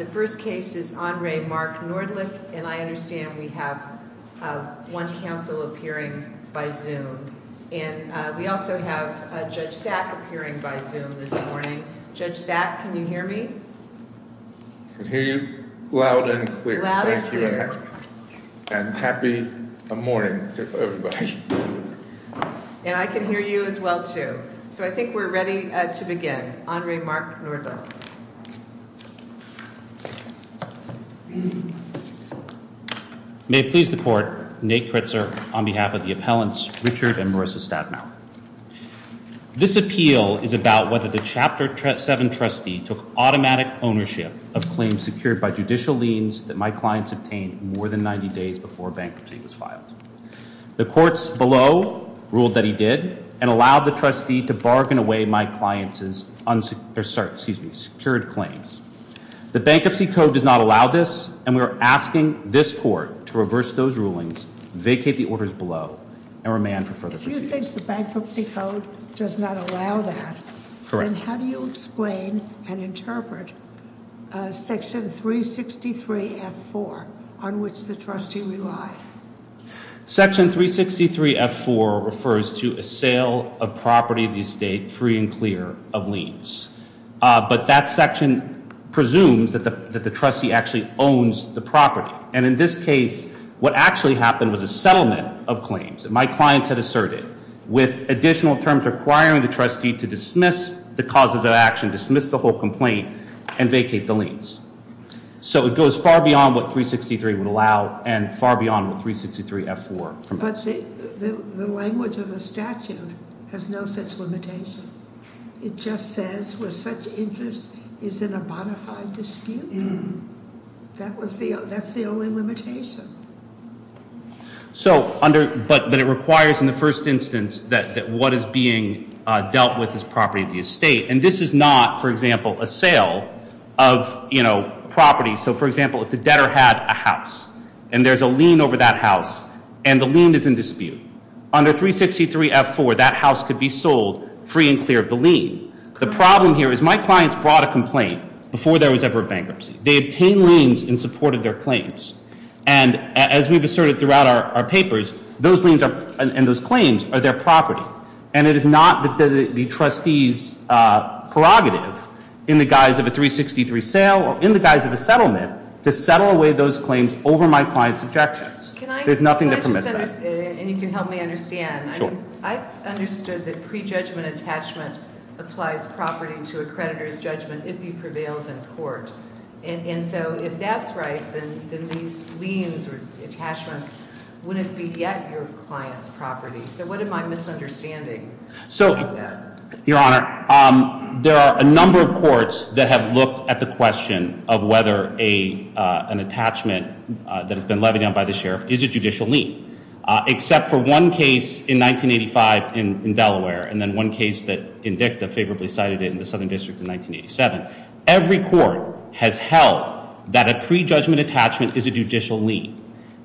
The first case is Andre Mark Nordlicht, and I understand we have one counsel appearing by Zoom. And we also have Judge Sack appearing by Zoom this morning. Judge Sack, can you hear me? I can hear you loud and clear, thank you, and happy morning to everybody. And I can hear you as well, too. So I think we're ready to begin. And Andre Mark Nordlicht. May it please the Court, Nate Kritzer on behalf of the appellants, Richard and Marissa Stabenauer. This appeal is about whether the Chapter 7 trustee took automatic ownership of claims secured by judicial liens that my clients obtained more than 90 days before bankruptcy was filed. The courts below ruled that he did, and allowed the trustee to bargain away my clients' secured claims. The Bankruptcy Code does not allow this, and we are asking this Court to reverse those rulings, vacate the orders below, and remand for further proceedings. If you think the Bankruptcy Code does not allow that, then how do you explain and interpret section 363 F4 on which the trustee relied? Section 363 F4 refers to a sale of property of the estate free and clear of liens. But that section presumes that the trustee actually owns the property. And in this case, what actually happened was a settlement of claims that my clients had asserted with additional terms requiring the trustee to dismiss the cause of the action, dismiss the whole complaint, and vacate the liens. So it goes far beyond what 363 would allow, and far beyond what 363 F4. But the language of the statute has no such limitation. It just says, where such interest is in a bona fide dispute, that's the only limitation. So, but it requires in the first instance that what is being dealt with is property of the estate. And this is not, for example, a sale of, you know, property. So for example, if the debtor had a house, and there's a lien over that house, and the lien is in dispute, under 363 F4, that house could be sold free and clear of the lien. The problem here is my clients brought a complaint before there was ever a bankruptcy. They obtained liens in support of their claims. And as we've asserted throughout our papers, those liens and those claims are their property. And it is not the trustee's prerogative, in the guise of a 363 sale, or in the guise of a settlement, to settle away those claims over my client's objections. There's nothing that permits that. And if you help me understand, I understood that pre-judgment attachment applies property to a creditor's judgment if he prevails in court. And so if that's right, then these liens or attachments wouldn't beget your client's property. So what am I misunderstanding? So, your honor, there are a number of courts that have looked at the question of whether an attachment that has been levied on by the sheriff is a judicial lien. Except for one case in 1985 in Delaware, and then one case that Indicta favorably cited it in the Southern District in 1987. Every court has held that a pre-judgment attachment is a judicial lien.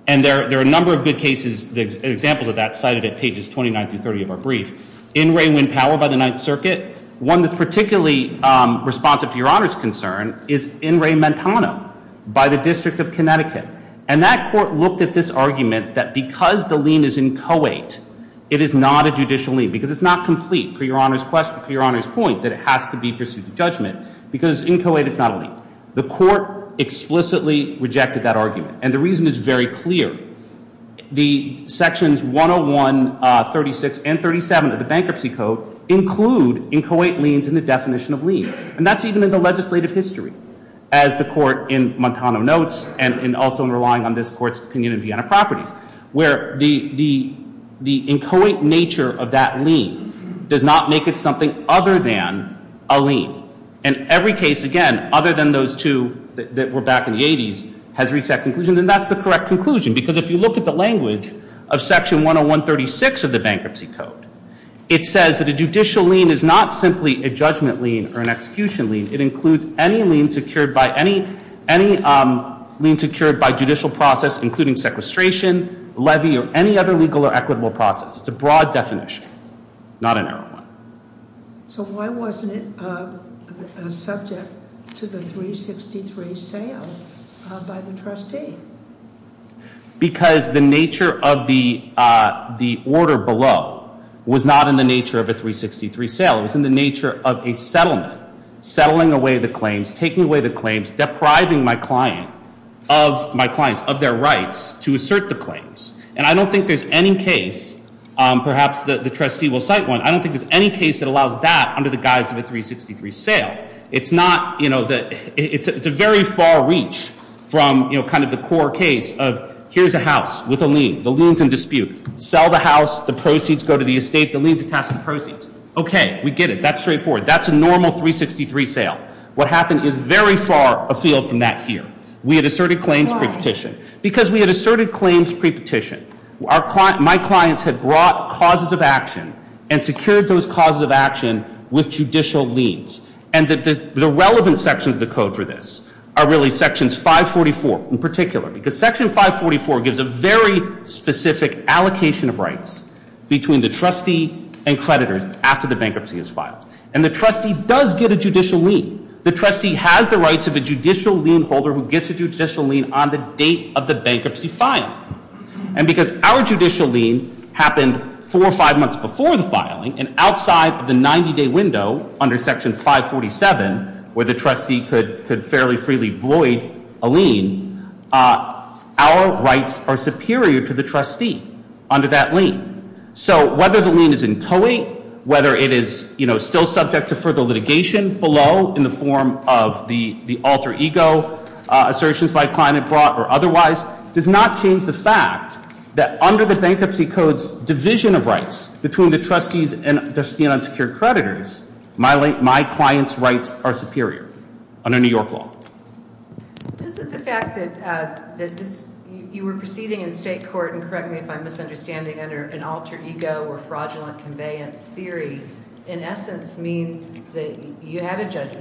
And there are a number of good cases, examples of that cited at pages 29 through 30 of our brief. In rewind power by the Ninth Circuit. One that's particularly responsive to your honor's concern is in re-mentana by the District of Connecticut. And that court looked at this argument that because the lien is in co-ate, it is not a judicial lien. Because it's not complete, for your honor's point, that it has to be pursued to judgment. Because in co-ate, it's not a lien. The court explicitly rejected that argument. And the reason is very clear. The sections 101, 36, and 37 of the bankruptcy code include in co-ate liens in the definition of lien. And that's even in the legislative history. As the court in Montana notes, and also in relying on this court's opinion in Vienna Properties. Where the in co-ate nature of that lien does not make it something other than a lien. And every case, again, other than those two that were back in the 80s, has reached that conclusion. And that's the correct conclusion. Because if you look at the language of section 101, 36 of the bankruptcy code, it says that a judicial lien is not simply a judgment lien or an execution lien. It includes any lien secured by judicial process, including sequestration, levy, or any other legal or equitable process. It's a broad definition, not a narrow one. So why wasn't it subject to the 363 sale by the trustee? Because the nature of the order below was not in the nature of a 363 sale. It was in the nature of a settlement. Settling away the claims, taking away the claims, depriving my clients of their rights to assert the claims. And I don't think there's any case, perhaps the trustee will cite one. I don't think there's any case that allows that under the guise of a 363 sale. It's a very far reach from kind of the core case of here's a house with a lien. The lien's in dispute. Sell the house, the proceeds go to the estate, the lien's attached to the proceeds. Okay, we get it. That's straightforward. That's a normal 363 sale. What happened is very far afield from that here. We had asserted claims pre-petition. Because we had asserted claims pre-petition, my clients had brought causes of action and secured those causes of action with judicial liens. And the relevant sections of the code for this are really sections 544 in particular. Because section 544 gives a very specific allocation of rights between the trustee and creditors after the bankruptcy is filed. And the trustee does get a judicial lien. The trustee has the rights of a judicial lien holder who gets a judicial lien on the date of the bankruptcy filing. And because our judicial lien happened four or five months before the filing and outside of the 90 day window under section 547 where the trustee could fairly freely void a lien, our rights are superior to the trustee under that lien. So whether the lien is in COE, whether it is still subject to further litigation below in the form of the alter ego, assertions by climate brought or otherwise, does not change the fact that under the bankruptcy code's division of rights between the trustees and the unsecured creditors, my client's rights are superior under New York law. Is it the fact that you were proceeding in state court, and correct me if I'm misunderstanding, under an alter ego or fraudulent conveyance theory, in essence mean that you had a judge,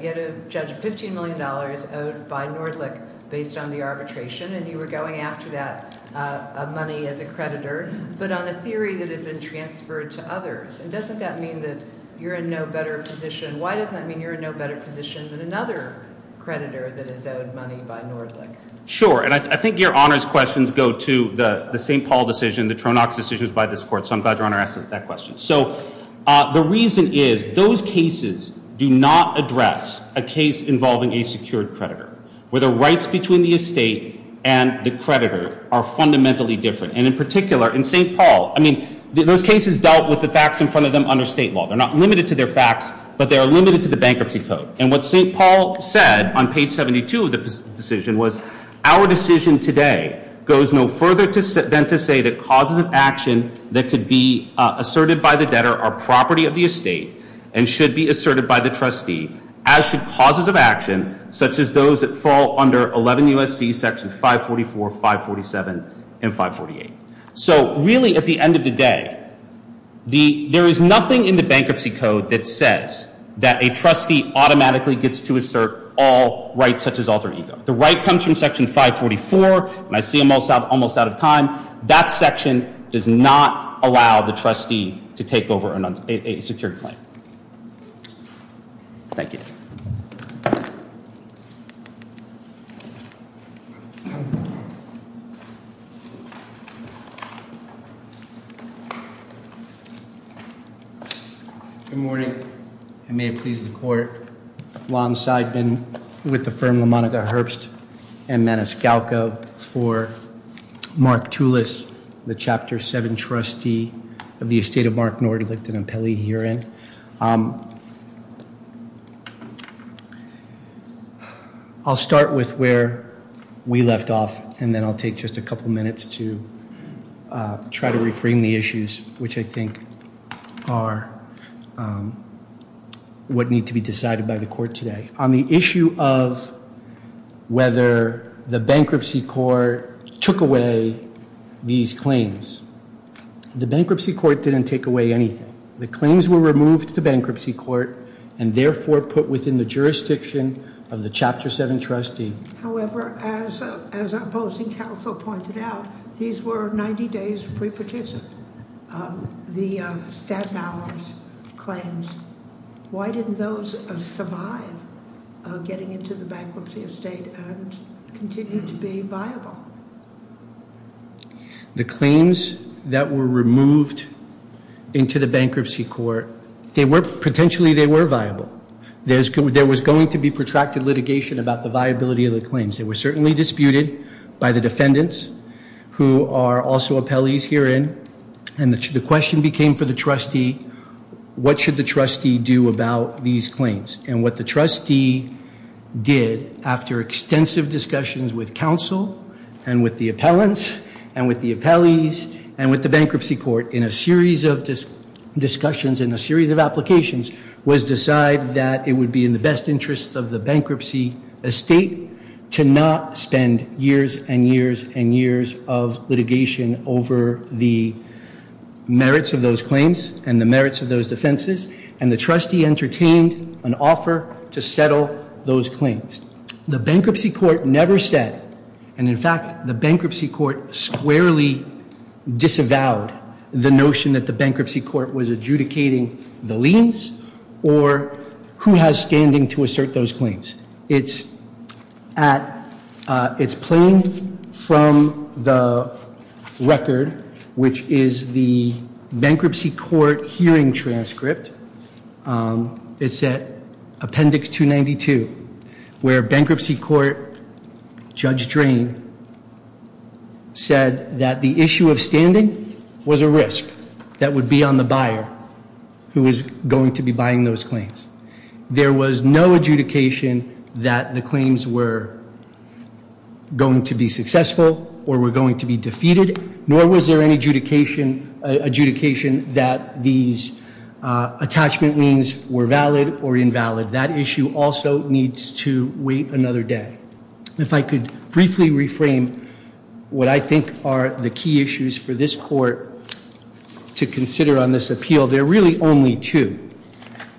a $15 million owed by Nordlich based on the arbitration and you were going after that money as a creditor. But on a theory that had been transferred to others, and doesn't that mean that you're in no better position? Why does that mean you're in no better position than another creditor that is owed money by Nordlich? Sure, and I think your honor's questions go to the St. Paul decision, the Tronox decision by this court, so I'm glad your honor asked that question. So the reason is, those cases do not address a case involving a secured creditor. Where the rights between the estate and the creditor are fundamentally different. And in particular, in St. Paul, I mean, those cases dealt with the facts in front of them under state law. They're not limited to their facts, but they are limited to the bankruptcy code. And what St. Paul said on page 72 of the decision was, our decision today goes no further than to say that causes of action that could be asserted by the debtor are property of the estate and should be asserted by the trustee. As should causes of action, such as those that fall under 11 U.S.C. sections 544, 547, and 548. So really, at the end of the day, there is nothing in the bankruptcy code that says that a trustee automatically gets to assert all rights such as alter ego. The right comes from section 544, and I see I'm almost out of time. That section does not allow the trustee to take over a secured claim. Thank you. Good morning, and may it please the court. Lon Seidman with the firm LaMonica Herbst and Maniscalco for Mark Tulis, the chapter seven trustee of the estate of Mark Nordlicht and Impelli herein. I'll start with where we left off, and then I'll take just a couple minutes to try to reframe the issues, which I think are what need to be decided by the court today. On the issue of whether the bankruptcy court took away these claims. The bankruptcy court didn't take away anything. The claims were removed to bankruptcy court, and therefore put within the jurisdiction of the chapter seven trustee. However, as our opposing counsel pointed out, these were 90 days pre-partition. The Staten Island's claims, why didn't those survive getting into the bankruptcy estate and continue to be viable? The claims that were removed into the bankruptcy court, potentially they were viable. There was going to be protracted litigation about the viability of the claims. They were certainly disputed by the defendants who are also appellees herein. And the question became for the trustee, what should the trustee do about these claims? And what the trustee did after extensive discussions with counsel and with the appellants and with the appellees and with the bankruptcy court in a series of discussions and a series of applications was decide that it would be in the best interest of the bankruptcy estate to not spend years and years and years of litigation over the merits of those claims and the merits of those defenses. And the trustee entertained an offer to settle those claims. The bankruptcy court never said, and in fact the bankruptcy court squarely disavowed the notion that the bankruptcy court was adjudicating the liens or who has standing to assert those claims. It's playing from the record, which is the bankruptcy court hearing transcript. It's at appendix 292, where bankruptcy court, Judge Drain, said that the issue of standing was a risk that would be on the buyer who is going to be buying those claims. There was no adjudication that the claims were going to be successful or were going to be defeated, nor was there any adjudication that these attachment liens were valid or invalid. That issue also needs to wait another day. If I could briefly reframe what I think are the key issues for this court to consider on this appeal, there are really only two.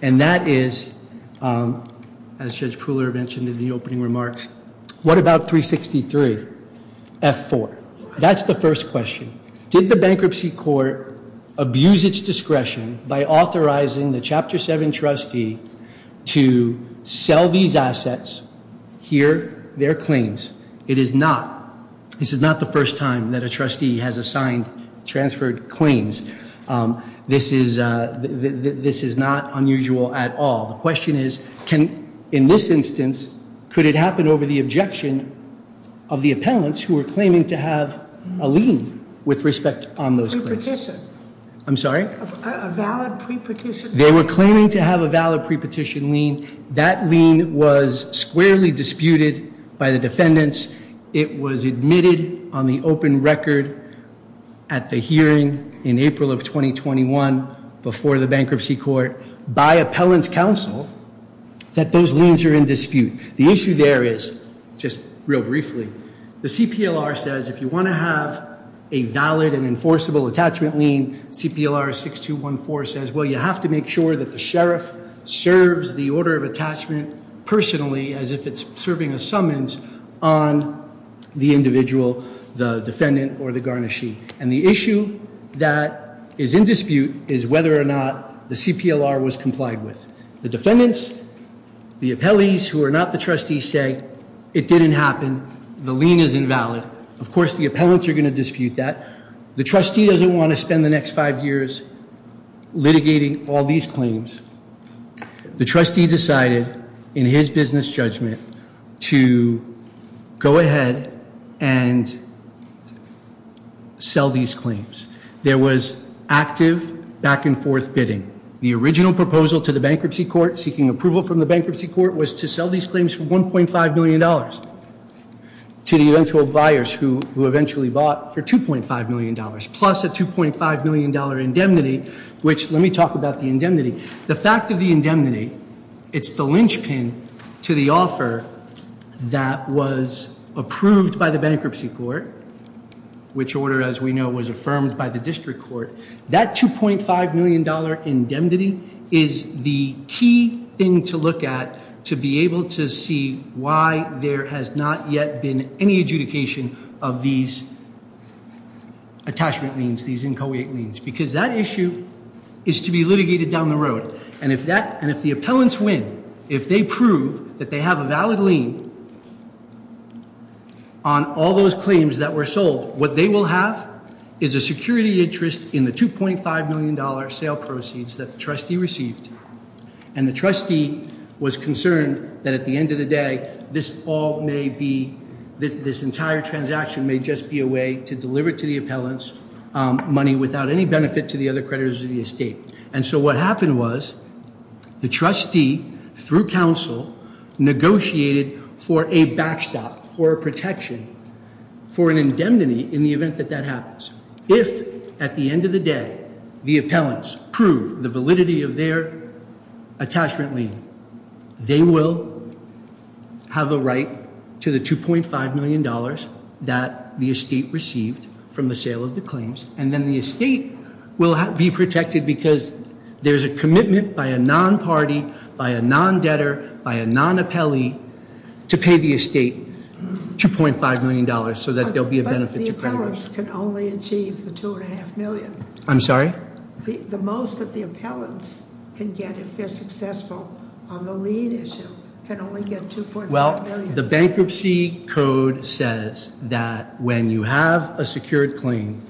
And that is, as Judge Pooler mentioned in the opening remarks, what about 363 F4? That's the first question. Did the bankruptcy court abuse its discretion by authorizing the Chapter 7 trustee to sell these assets, here, their claims? It is not. This is not the first time that a trustee has assigned transferred claims. This is not unusual at all. The question is, in this instance, could it happen over the objection of the appellants who were claiming to have a lien with respect on those claims? A pre-petition. I'm sorry? A valid pre-petition. They were claiming to have a valid pre-petition lien. That lien was squarely disputed by the defendants. It was admitted on the open record at the hearing in April of 2021, before the bankruptcy court, by appellant's counsel, that those liens are in dispute. The issue there is, just real briefly, the CPLR says if you want to have a valid and make sure that the sheriff serves the order of attachment personally, as if it's serving a summons on the individual, the defendant, or the garnishee. And the issue that is in dispute is whether or not the CPLR was complied with. The defendants, the appellees who are not the trustees say, it didn't happen, the lien is invalid. Of course, the appellants are going to dispute that. The trustee doesn't want to spend the next five years litigating all these claims. The trustee decided, in his business judgment, to go ahead and sell these claims. There was active back and forth bidding. The original proposal to the bankruptcy court, seeking approval from the bankruptcy court, was to sell these claims for $1.5 million to the eventual buyers, who eventually bought for $2.5 million, plus a $2.5 million indemnity. Which, let me talk about the indemnity. The fact of the indemnity, it's the linchpin to the offer that was approved by the bankruptcy court. Which order, as we know, was affirmed by the district court. That $2.5 million indemnity is the key thing to look at to be able to see why there has not yet been any adjudication of these attachment liens, these inchoate liens, because that issue is to be litigated down the road. And if the appellants win, if they prove that they have a valid lien on all those claims that were sold, what they will have is a security interest in the $2.5 million sale proceeds that the trustee received. And the trustee was concerned that at the end of the day, this all may be, this entire transaction may just be a way to deliver to the appellants money without any benefit to the other creditors of the estate. And so what happened was, the trustee, through counsel, negotiated for a backstop, for a protection, for an indemnity in the event that that happens. If, at the end of the day, the appellants prove the validity of their attachment lien, they will have a right to the $2.5 million that the estate received from the sale of the claims. And then the estate will be protected because there's a commitment by a non-party, by a non-debtor, by a non-appellee to pay the estate $2.5 million so that there'll be a benefit to creditors. The appellants can only achieve the $2.5 million. I'm sorry? The most that the appellants can get if they're successful on the lien issue can only get $2.5 million. Well, the bankruptcy code says that when you have a secured claim,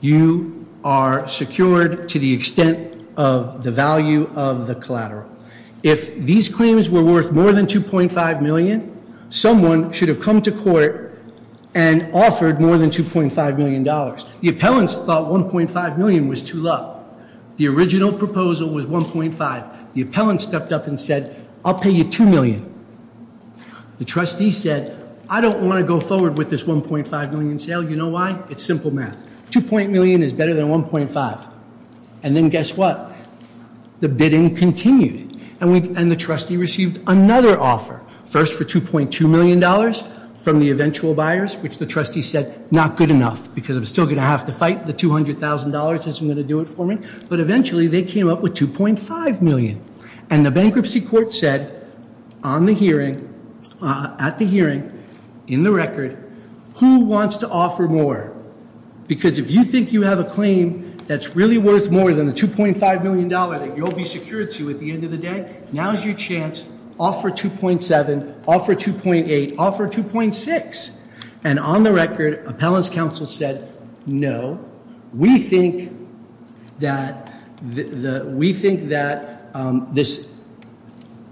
you are secured to the extent of the value of the collateral. If these claims were worth more than $2.5 million, someone should have come to court and offered more than $2.5 million, the appellants thought $1.5 million was too low. The original proposal was $1.5, the appellant stepped up and said, I'll pay you $2 million. The trustee said, I don't want to go forward with this $1.5 million sale, you know why? It's simple math. $2.0 million is better than $1.5, and then guess what? The bidding continued, and the trustee received another offer. First for $2.2 million from the eventual buyers, which the trustee said, not good enough, because I'm still going to have to fight the $200,000, this isn't going to do it for me. But eventually, they came up with $2.5 million. And the bankruptcy court said, on the hearing, at the hearing, in the record, who wants to offer more? Because if you think you have a claim that's really worth more than the $2.5 million that you'll be secured to at the end of the day, now's your chance, offer $2.7, offer $2.8, offer $2.6. And on the record, appellant's counsel said, no. We think that this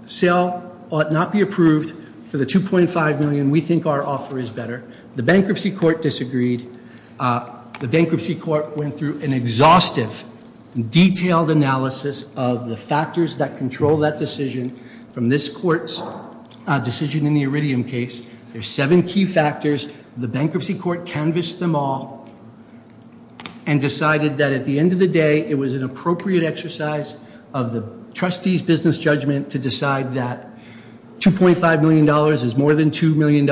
sale ought not be approved for the $2.5 million, we think our offer is better. The bankruptcy court disagreed. The bankruptcy court went through an exhaustive, detailed analysis of the factors that control that decision. From this court's decision in the Iridium case, there's seven key factors. The bankruptcy court canvassed them all and decided that at the end of the day, it was an appropriate exercise of the trustee's business judgment to decide that $2.5 million is more than $2 million,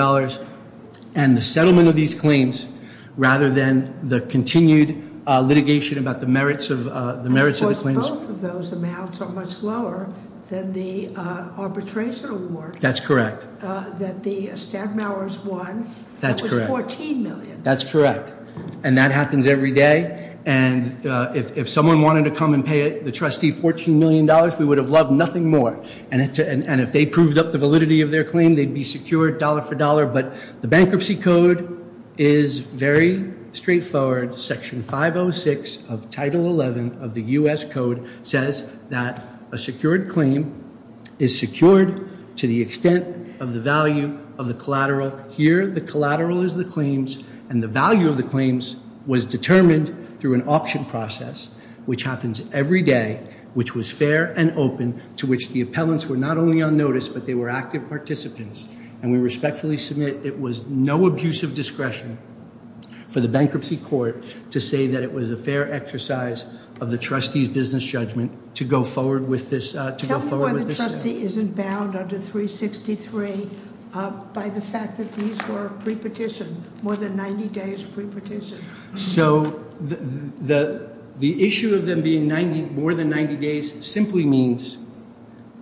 and the settlement of these claims, rather than the continued litigation about the merits of the claims. Both of those amounts are much lower than the arbitration award. That's correct. That the Stadtmowers won, that was $14 million. That's correct. And that happens every day. And if someone wanted to come and pay the trustee $14 million, we would have loved nothing more. And if they proved up the validity of their claim, they'd be secured dollar for dollar. But the bankruptcy code is very straightforward. Section 506 of Title 11 of the US Code says that a secured claim is secured to the extent of the value of the collateral. Here, the collateral is the claims, and the value of the claims was determined through an auction process, which happens every day, which was fair and open, to which the appellants were not only on notice, but they were active participants. And we respectfully submit it was no abuse of discretion for the bankruptcy court to say that it was a fair exercise of the trustee's business judgment to go forward with this. Tell me why the trustee isn't bound under 363 by the fact that these were pre-petitioned, more than 90 days pre-petitioned. So the issue of them being more than 90 days simply means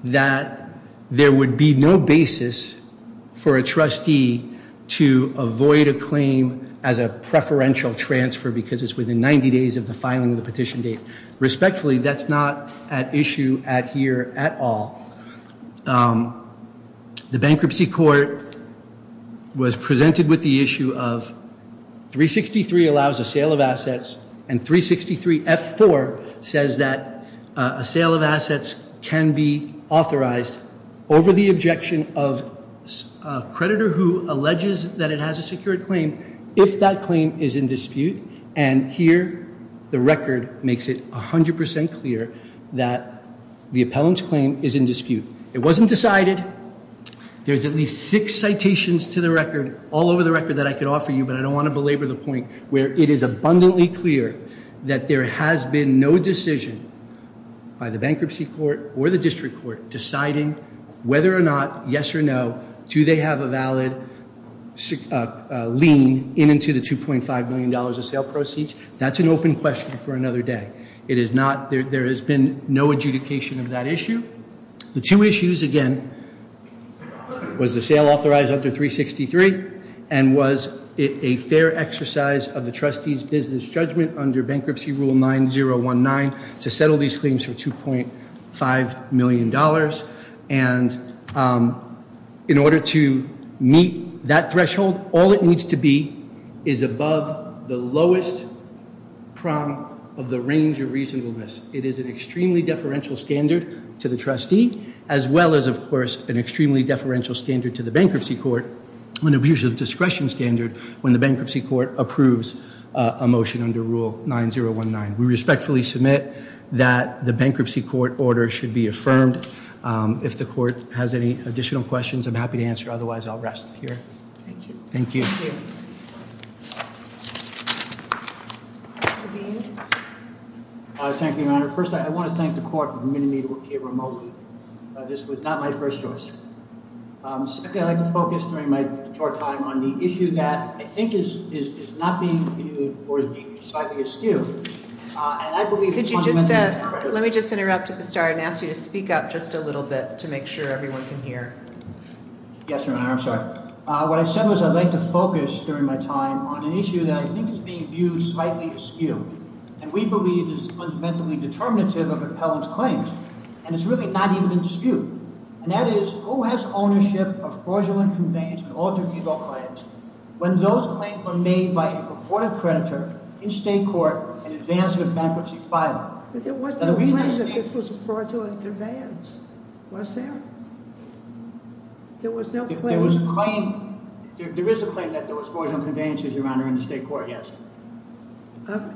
that there would be no basis for a trustee to avoid a claim as a preferential transfer because it's within 90 days of the filing of the petition date. Respectfully, that's not at issue at here at all. The bankruptcy court was presented with the issue of 363 allows a sale of assets. And 363 F4 says that a sale of assets can be authorized over the objection of a creditor who alleges that it has a secured claim if that claim is in dispute. And here, the record makes it 100% clear that the appellant's claim is in dispute. It wasn't decided, there's at least six citations to the record, all over the record that I could offer you, but I don't want to belabor the point where it is abundantly clear that there has been no decision by the bankruptcy court or the district court deciding whether or not, yes or no, do they have a valid lien into the $2.5 million of sale proceeds. That's an open question for another day. It is not, there has been no adjudication of that issue. The two issues, again, was the sale authorized under 363 and was it a fair exercise of the trustee's business judgment under bankruptcy rule 9019 to settle these claims for $2.5 million. And in order to meet that threshold, all it needs to be is above the lowest prong of the range of reasonableness. It is an extremely deferential standard to the trustee, as well as, of course, an extremely deferential standard to the bankruptcy court, an abuse of discretion standard, when the bankruptcy court approves a motion under rule 9019. We respectfully submit that the bankruptcy court order should be affirmed. If the court has any additional questions, I'm happy to answer. Otherwise, I'll rest here. Thank you. Thank you, Your Honor. First, I want to thank the court for permitting me to appear remotely. This was not my first choice. Secondly, I'd like to focus during my short time on the issue that I think is not being viewed or is being slightly askew. And I believe- Could you just, let me just interrupt at the start and ask you to speak up just a little bit to make sure everyone can hear. Yes, Your Honor, I'm sorry. What I said was I'd like to focus during my time on an issue that I think is being viewed slightly askew. And we believe it is fundamentally determinative of appellant's claims. And it's really not even in dispute. And that is, who has ownership of fraudulent conveyance and alter-fugal claims, when those claims were made by a reported creditor in state court and advanced in a bankruptcy file? But there was no claim that this was a fraudulent conveyance, was there? There was no claim. If there was a claim, there is a claim that there was fraudulent conveyances, Your Honor, in the state court, yes.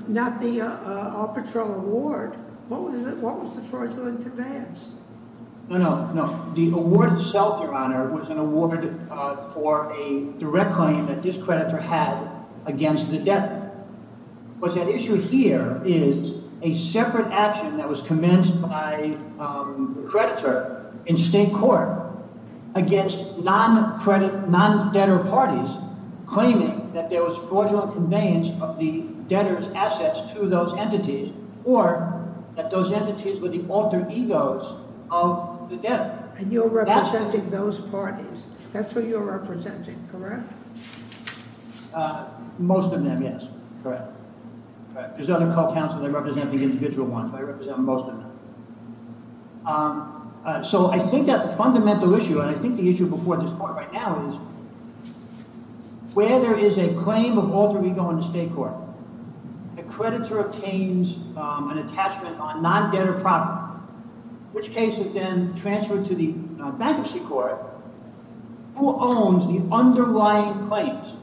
Not the Alpatrol award. What was the fraudulent conveyance? No, no, no. The award itself, Your Honor, was an award for a direct claim that this creditor had against the debtor. But the issue here is a separate action that was commenced by the creditor in state court against non-credit, non-debtor parties claiming that there was fraudulent conveyance of the debtor's assets to those entities, or that those entities were the alter-egos of the debtor. And you're representing those parties. That's who you're representing, correct? Most of them, yes. Correct. Correct. There's other co-counselors that represent the individual ones, but I represent most of them. So, I think that the fundamental issue, and I think the issue before this point right now is where there is a claim of alter-ego in the state court, a creditor obtains an attachment on non-debtor property, which case is then transferred to the bankruptcy court, who owns the underlying claims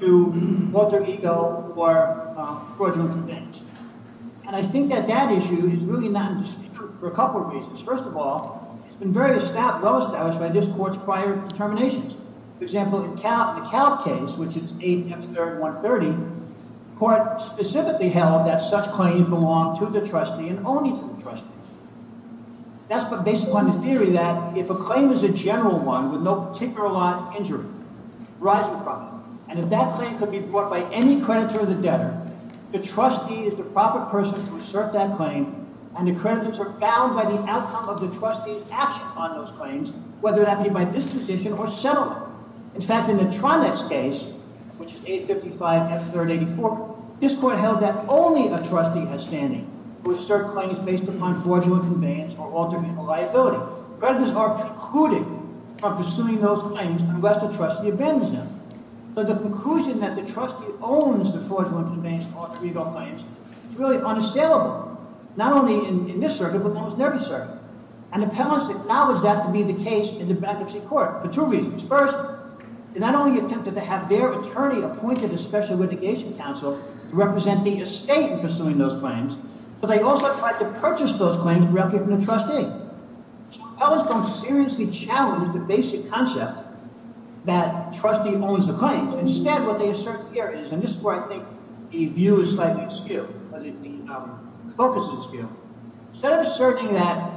to alter-ego or fraudulent conveyance. And I think that that issue is really not in dispute for a couple of reasons. First of all, it's been very established by this court's prior determinations. For example, in the Calc case, which is 8F3130, court specifically held that such claims belong to the trustee and only to the trustee. That's based upon the theory that if a claim is a general one with no particular lines of injury, rise in fraud. And if that claim could be brought by any creditor of the debtor, the trustee is the proper person to assert that claim, and the creditors are bound by the outcome of the trustee's action on those claims, whether that be by disposition or settlement. In fact, in the Tronex case, which is 855F384, this court held that only a trustee has standing who has served claims based upon fraudulent conveyance or alter-ego liability. Creditors are precluded from pursuing those claims unless the trustee abandons them. So the conclusion that the trustee owns the fraudulent conveyance and alter-ego claims, it's really unassailable, not only in this circuit, but in almost every circuit. And appellants acknowledge that to be the case in the bankruptcy court for two reasons. First, they not only attempted to have their attorney appointed a special litigation counsel to represent the estate in pursuing those claims, but they also tried to purchase those claims directly from the trustee. So appellants don't seriously challenge the basic concept that trustee owns the claims. Instead, what they assert here is, and this is where I think the view is slightly askew, or the focus is askew. Instead of asserting that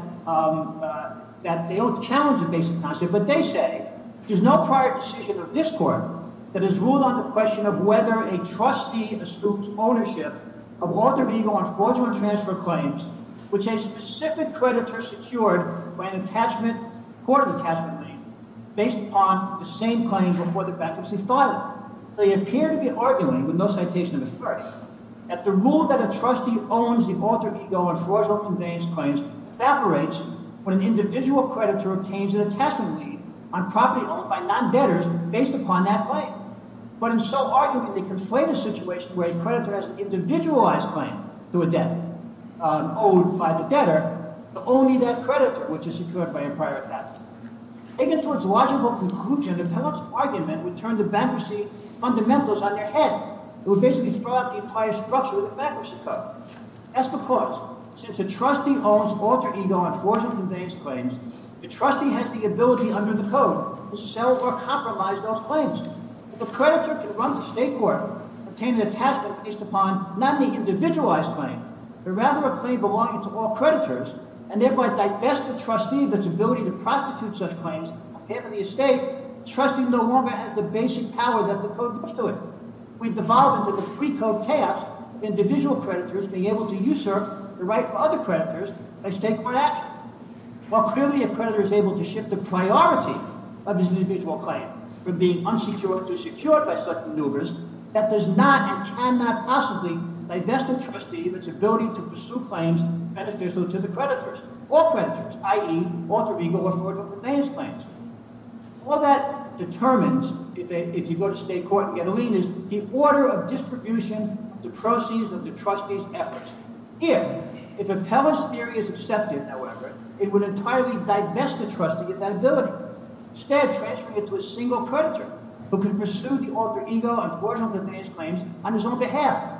they don't challenge the basic concept, but they say there's no prior decision of this court that has ruled on the question of whether a trustee eschews ownership of alter-ego and fraudulent transfer claims, which a specific creditor secured by an attachment, court of attachment name, based upon the same claim before the bankruptcy filing. They appear to be arguing, with no citation of authority, that the rule that a trustee owns the alter-ego and fraudulent conveyance claims evaporates when an individual creditor obtains an attachment lead on property owned by non-debtors based upon that claim. But in so arguing, they conflate a situation where a creditor has an individualized claim to a debt owed by the debtor, but only that creditor, which is secured by a prior attachment. Taking it to its logical conclusion, the appellant's argument would turn the bankruptcy fundamentals on their head. It would basically throw out the entire structure of the bankruptcy code. That's because, since a trustee owns alter-ego and fraudulent conveyance claims, the trustee has the ability under the code to sell or compromise those claims. If a creditor can run the state court, obtain an attachment based upon not an individualized claim, but rather a claim belonging to all creditors, and thereby divest the trustee of its ability to prostitute such claims, and handle the estate, the trustee no longer has the basic power that the code would do it. We've devolved into the pre-code chaos of individual creditors being able to usurp the right of other creditors by state court action. While clearly a creditor is able to shift the priority of his individual claim from being unsecured to secured by such maneuvers, that does not and cannot possibly divest a trustee of its ability to pursue claims beneficial to the creditors or creditors, i.e., alter-ego or fraudulent conveyance claims. All that determines, if you go to state court, the other lien is the order of distribution, the proceeds of the trustee's efforts. Here, if appellant's theory is accepted, however, it would entirely divest the trustee of that ability, instead of transferring it to a single creditor who can pursue the alter-ego and fraudulent conveyance claims on his own behalf.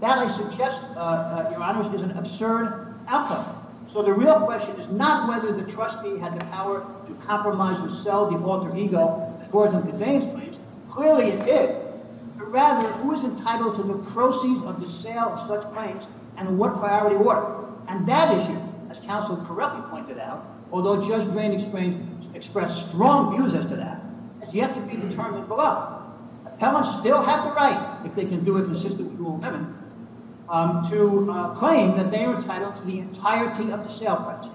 That, I suggest, your honors, is an absurd outcome. So the real question is not whether the trustee had the power to compromise or sell the alter-ego and fraudulent conveyance claims. Clearly, it did. But rather, who is entitled to the proceeds of the sale of such claims and in what priority order? And that issue, as counsel correctly pointed out, although Judge Drain expressed strong views as to that, has yet to be determined below. Appellants still have the right, if they can do it consistent with rule 11, to claim that they are entitled to the entirety of the sale rights.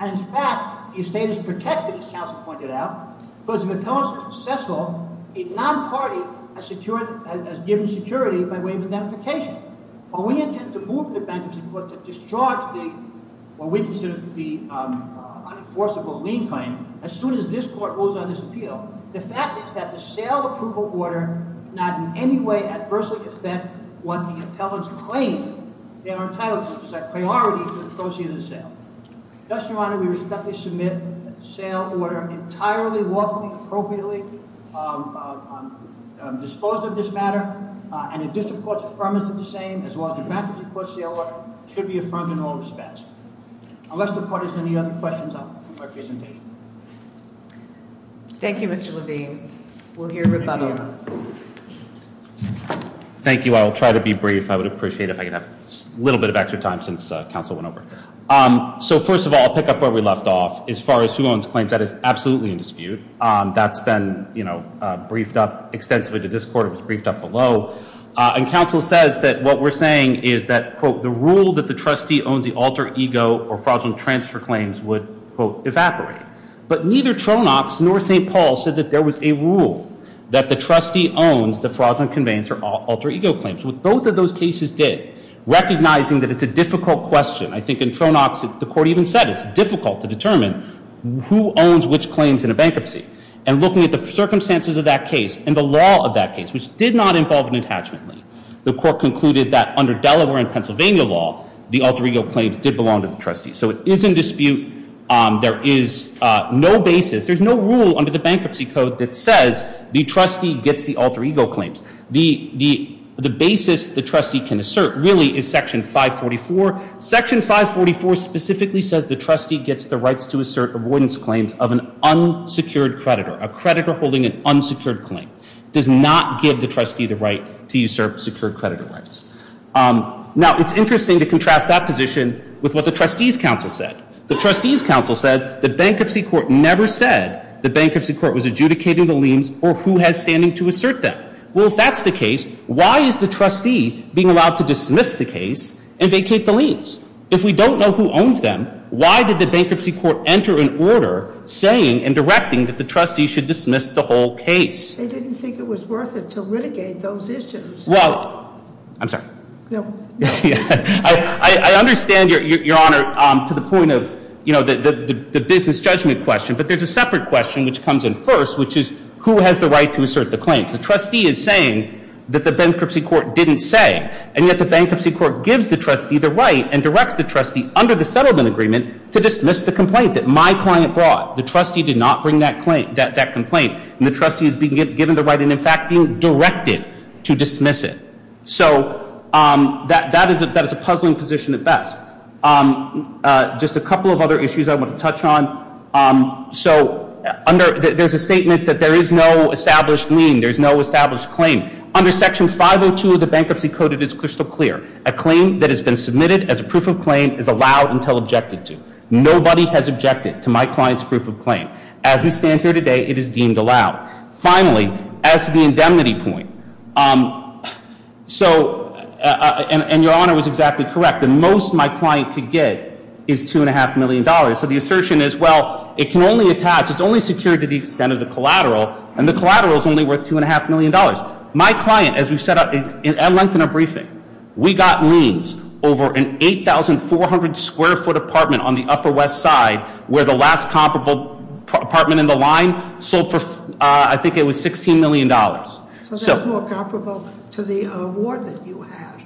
And in fact, the estate is protected, as counsel pointed out, because if appellants are successful, a non-party has given security by way of identification. While we intend to move the benches in court to discharge what we consider to be an enforceable lien claim, as soon as this court rules on this appeal, the fact is that the sale approval order not in any way adversely affects what the appellants claim they are entitled to, which is that priority of the proceeds of the sale. Thus, Your Honor, we respectfully submit that the sale order entirely lawfully, appropriately disposed of this matter, and the district court's affirmation of the same, as well as the bankruptcy court's sale order, should be affirmed in all respects. Unless the court has any other questions, I'll conclude my presentation. Thank you, Mr. Levine. We'll hear rebuttal. Thank you. I'll try to be brief. I would appreciate if I could have a little bit of extra time since counsel went over. So first of all, I'll pick up where we left off. As far as who owns claims, that is absolutely in dispute. That's been briefed up extensively to this court. It was briefed up below. And counsel says that what we're saying is that, quote, the rule that the trustee owns the alter ego or fraudulent transfer claims would, quote, evaporate. But neither Tronox nor St. Paul said that there was a rule that the trustee owns the fraudulent conveyance or alter ego claims. What both of those cases did, recognizing that it's a difficult question, I think in Tronox, the court even said it's difficult to determine who owns which claims in a bankruptcy. And looking at the circumstances of that case and the law of that case, which did not involve an detachment, the court concluded that under Delaware and Pennsylvania law, the alter ego claims did belong to the trustee. So it is in dispute. There is no basis. There's no rule under the bankruptcy code that says the trustee gets the alter ego claims. The basis the trustee can assert really is section 544. Section 544 specifically says the trustee gets the rights to assert avoidance claims of an unsecured creditor. A creditor holding an unsecured claim does not give the trustee the right to usurp secured creditor rights. Now, it's interesting to contrast that position with what the trustee's counsel said. The trustee's counsel said the bankruptcy court never said the bankruptcy court was adjudicating the liens or who has standing to assert them. Well, if that's the case, why is the trustee being allowed to dismiss the case and vacate the liens? If we don't know who owns them, why did the bankruptcy court enter an order saying and directing that the trustee should dismiss the whole case? They didn't think it was worth it to litigate those issues. Well, I'm sorry. I understand, Your Honor, to the point of, you know, the business judgment question, but there's a separate question which comes in first, which is who has the right to assert the claims? The trustee is saying that the bankruptcy court didn't say, and yet the bankruptcy court gives the trustee the right and directs the trustee under the settlement agreement to dismiss the complaint that my client brought. The trustee did not bring that complaint, and the trustee is being given the right and, in fact, being directed to dismiss it. So that is a puzzling position at best. Just a couple of other issues I want to touch on. So there's a statement that there is no established lien, there's no established claim. Under Section 502 of the Bankruptcy Code, it is crystal clear. A claim that has been submitted as a proof of claim is allowed until objected to. Nobody has objected to my client's proof of claim. As we stand here today, it is deemed allowed. Finally, as to the indemnity point, and Your Honor was exactly correct, the most my client could get is $2.5 million. So the assertion is, well, it can only attach, it's only secured to the extent of the collateral, and the collateral is only worth $2.5 million. My client, as we've said at length in our briefing, we got liens over an 8,400-square-foot apartment on the Upper West Side, where the last comparable apartment in the line sold for, I think it was $16 million. So that's more comparable to the award that you had.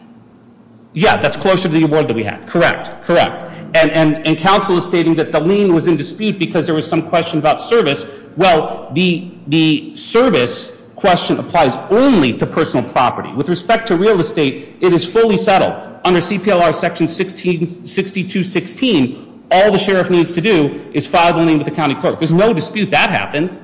Yeah, that's closer to the award that we had. Correct, correct. And counsel is stating that the lien was in dispute because there was some question about service. Well, the service question applies only to personal property. With respect to real estate, it is fully settled. Under CPLR section 1662.16, all the sheriff needs to do is file the lien with the county clerk. There's no dispute that happened.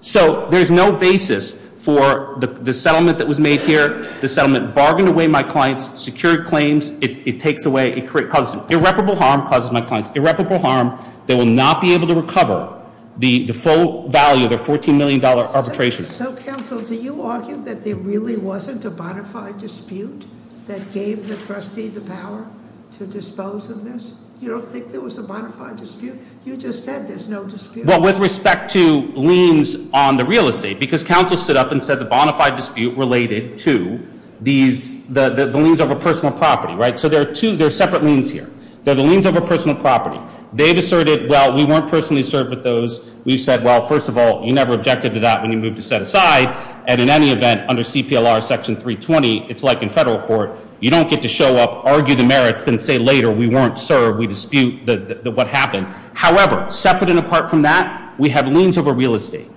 So there's no basis for the settlement that was made here. The settlement bargained away my client's secured claims. It takes away, it causes irreparable harm, causes my client's irreparable harm. They will not be able to recover the full value of their $14 million arbitration. So, counsel, do you argue that there really wasn't a bona fide dispute that gave the trustee the power to dispose of this? You don't think there was a bona fide dispute? You just said there's no dispute. Well, with respect to liens on the real estate, because counsel stood up and said the bona fide dispute related to these, the liens over personal property, right? So there are two, there are separate liens here. They're the liens over personal property. They've asserted, well, we weren't personally served with those. We've said, well, first of all, you never objected to that when you moved to set aside. And in any event, under CPLR section 320, it's like in federal court. You don't get to show up, argue the merits, then say later we weren't served, we dispute what happened. However, separate and apart from that, we have liens over real estate.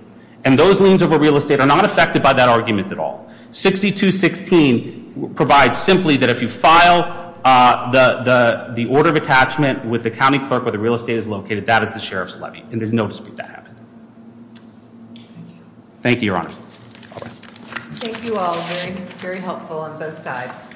And those liens over real estate are not affected by that argument at all. 62.16 provides simply that if you file the order of attachment with the county clerk where the real estate is located, that is the sheriff's levy. And there's no dispute that happened. Thank you, your honors. Thank you all. Very, very helpful on both sides.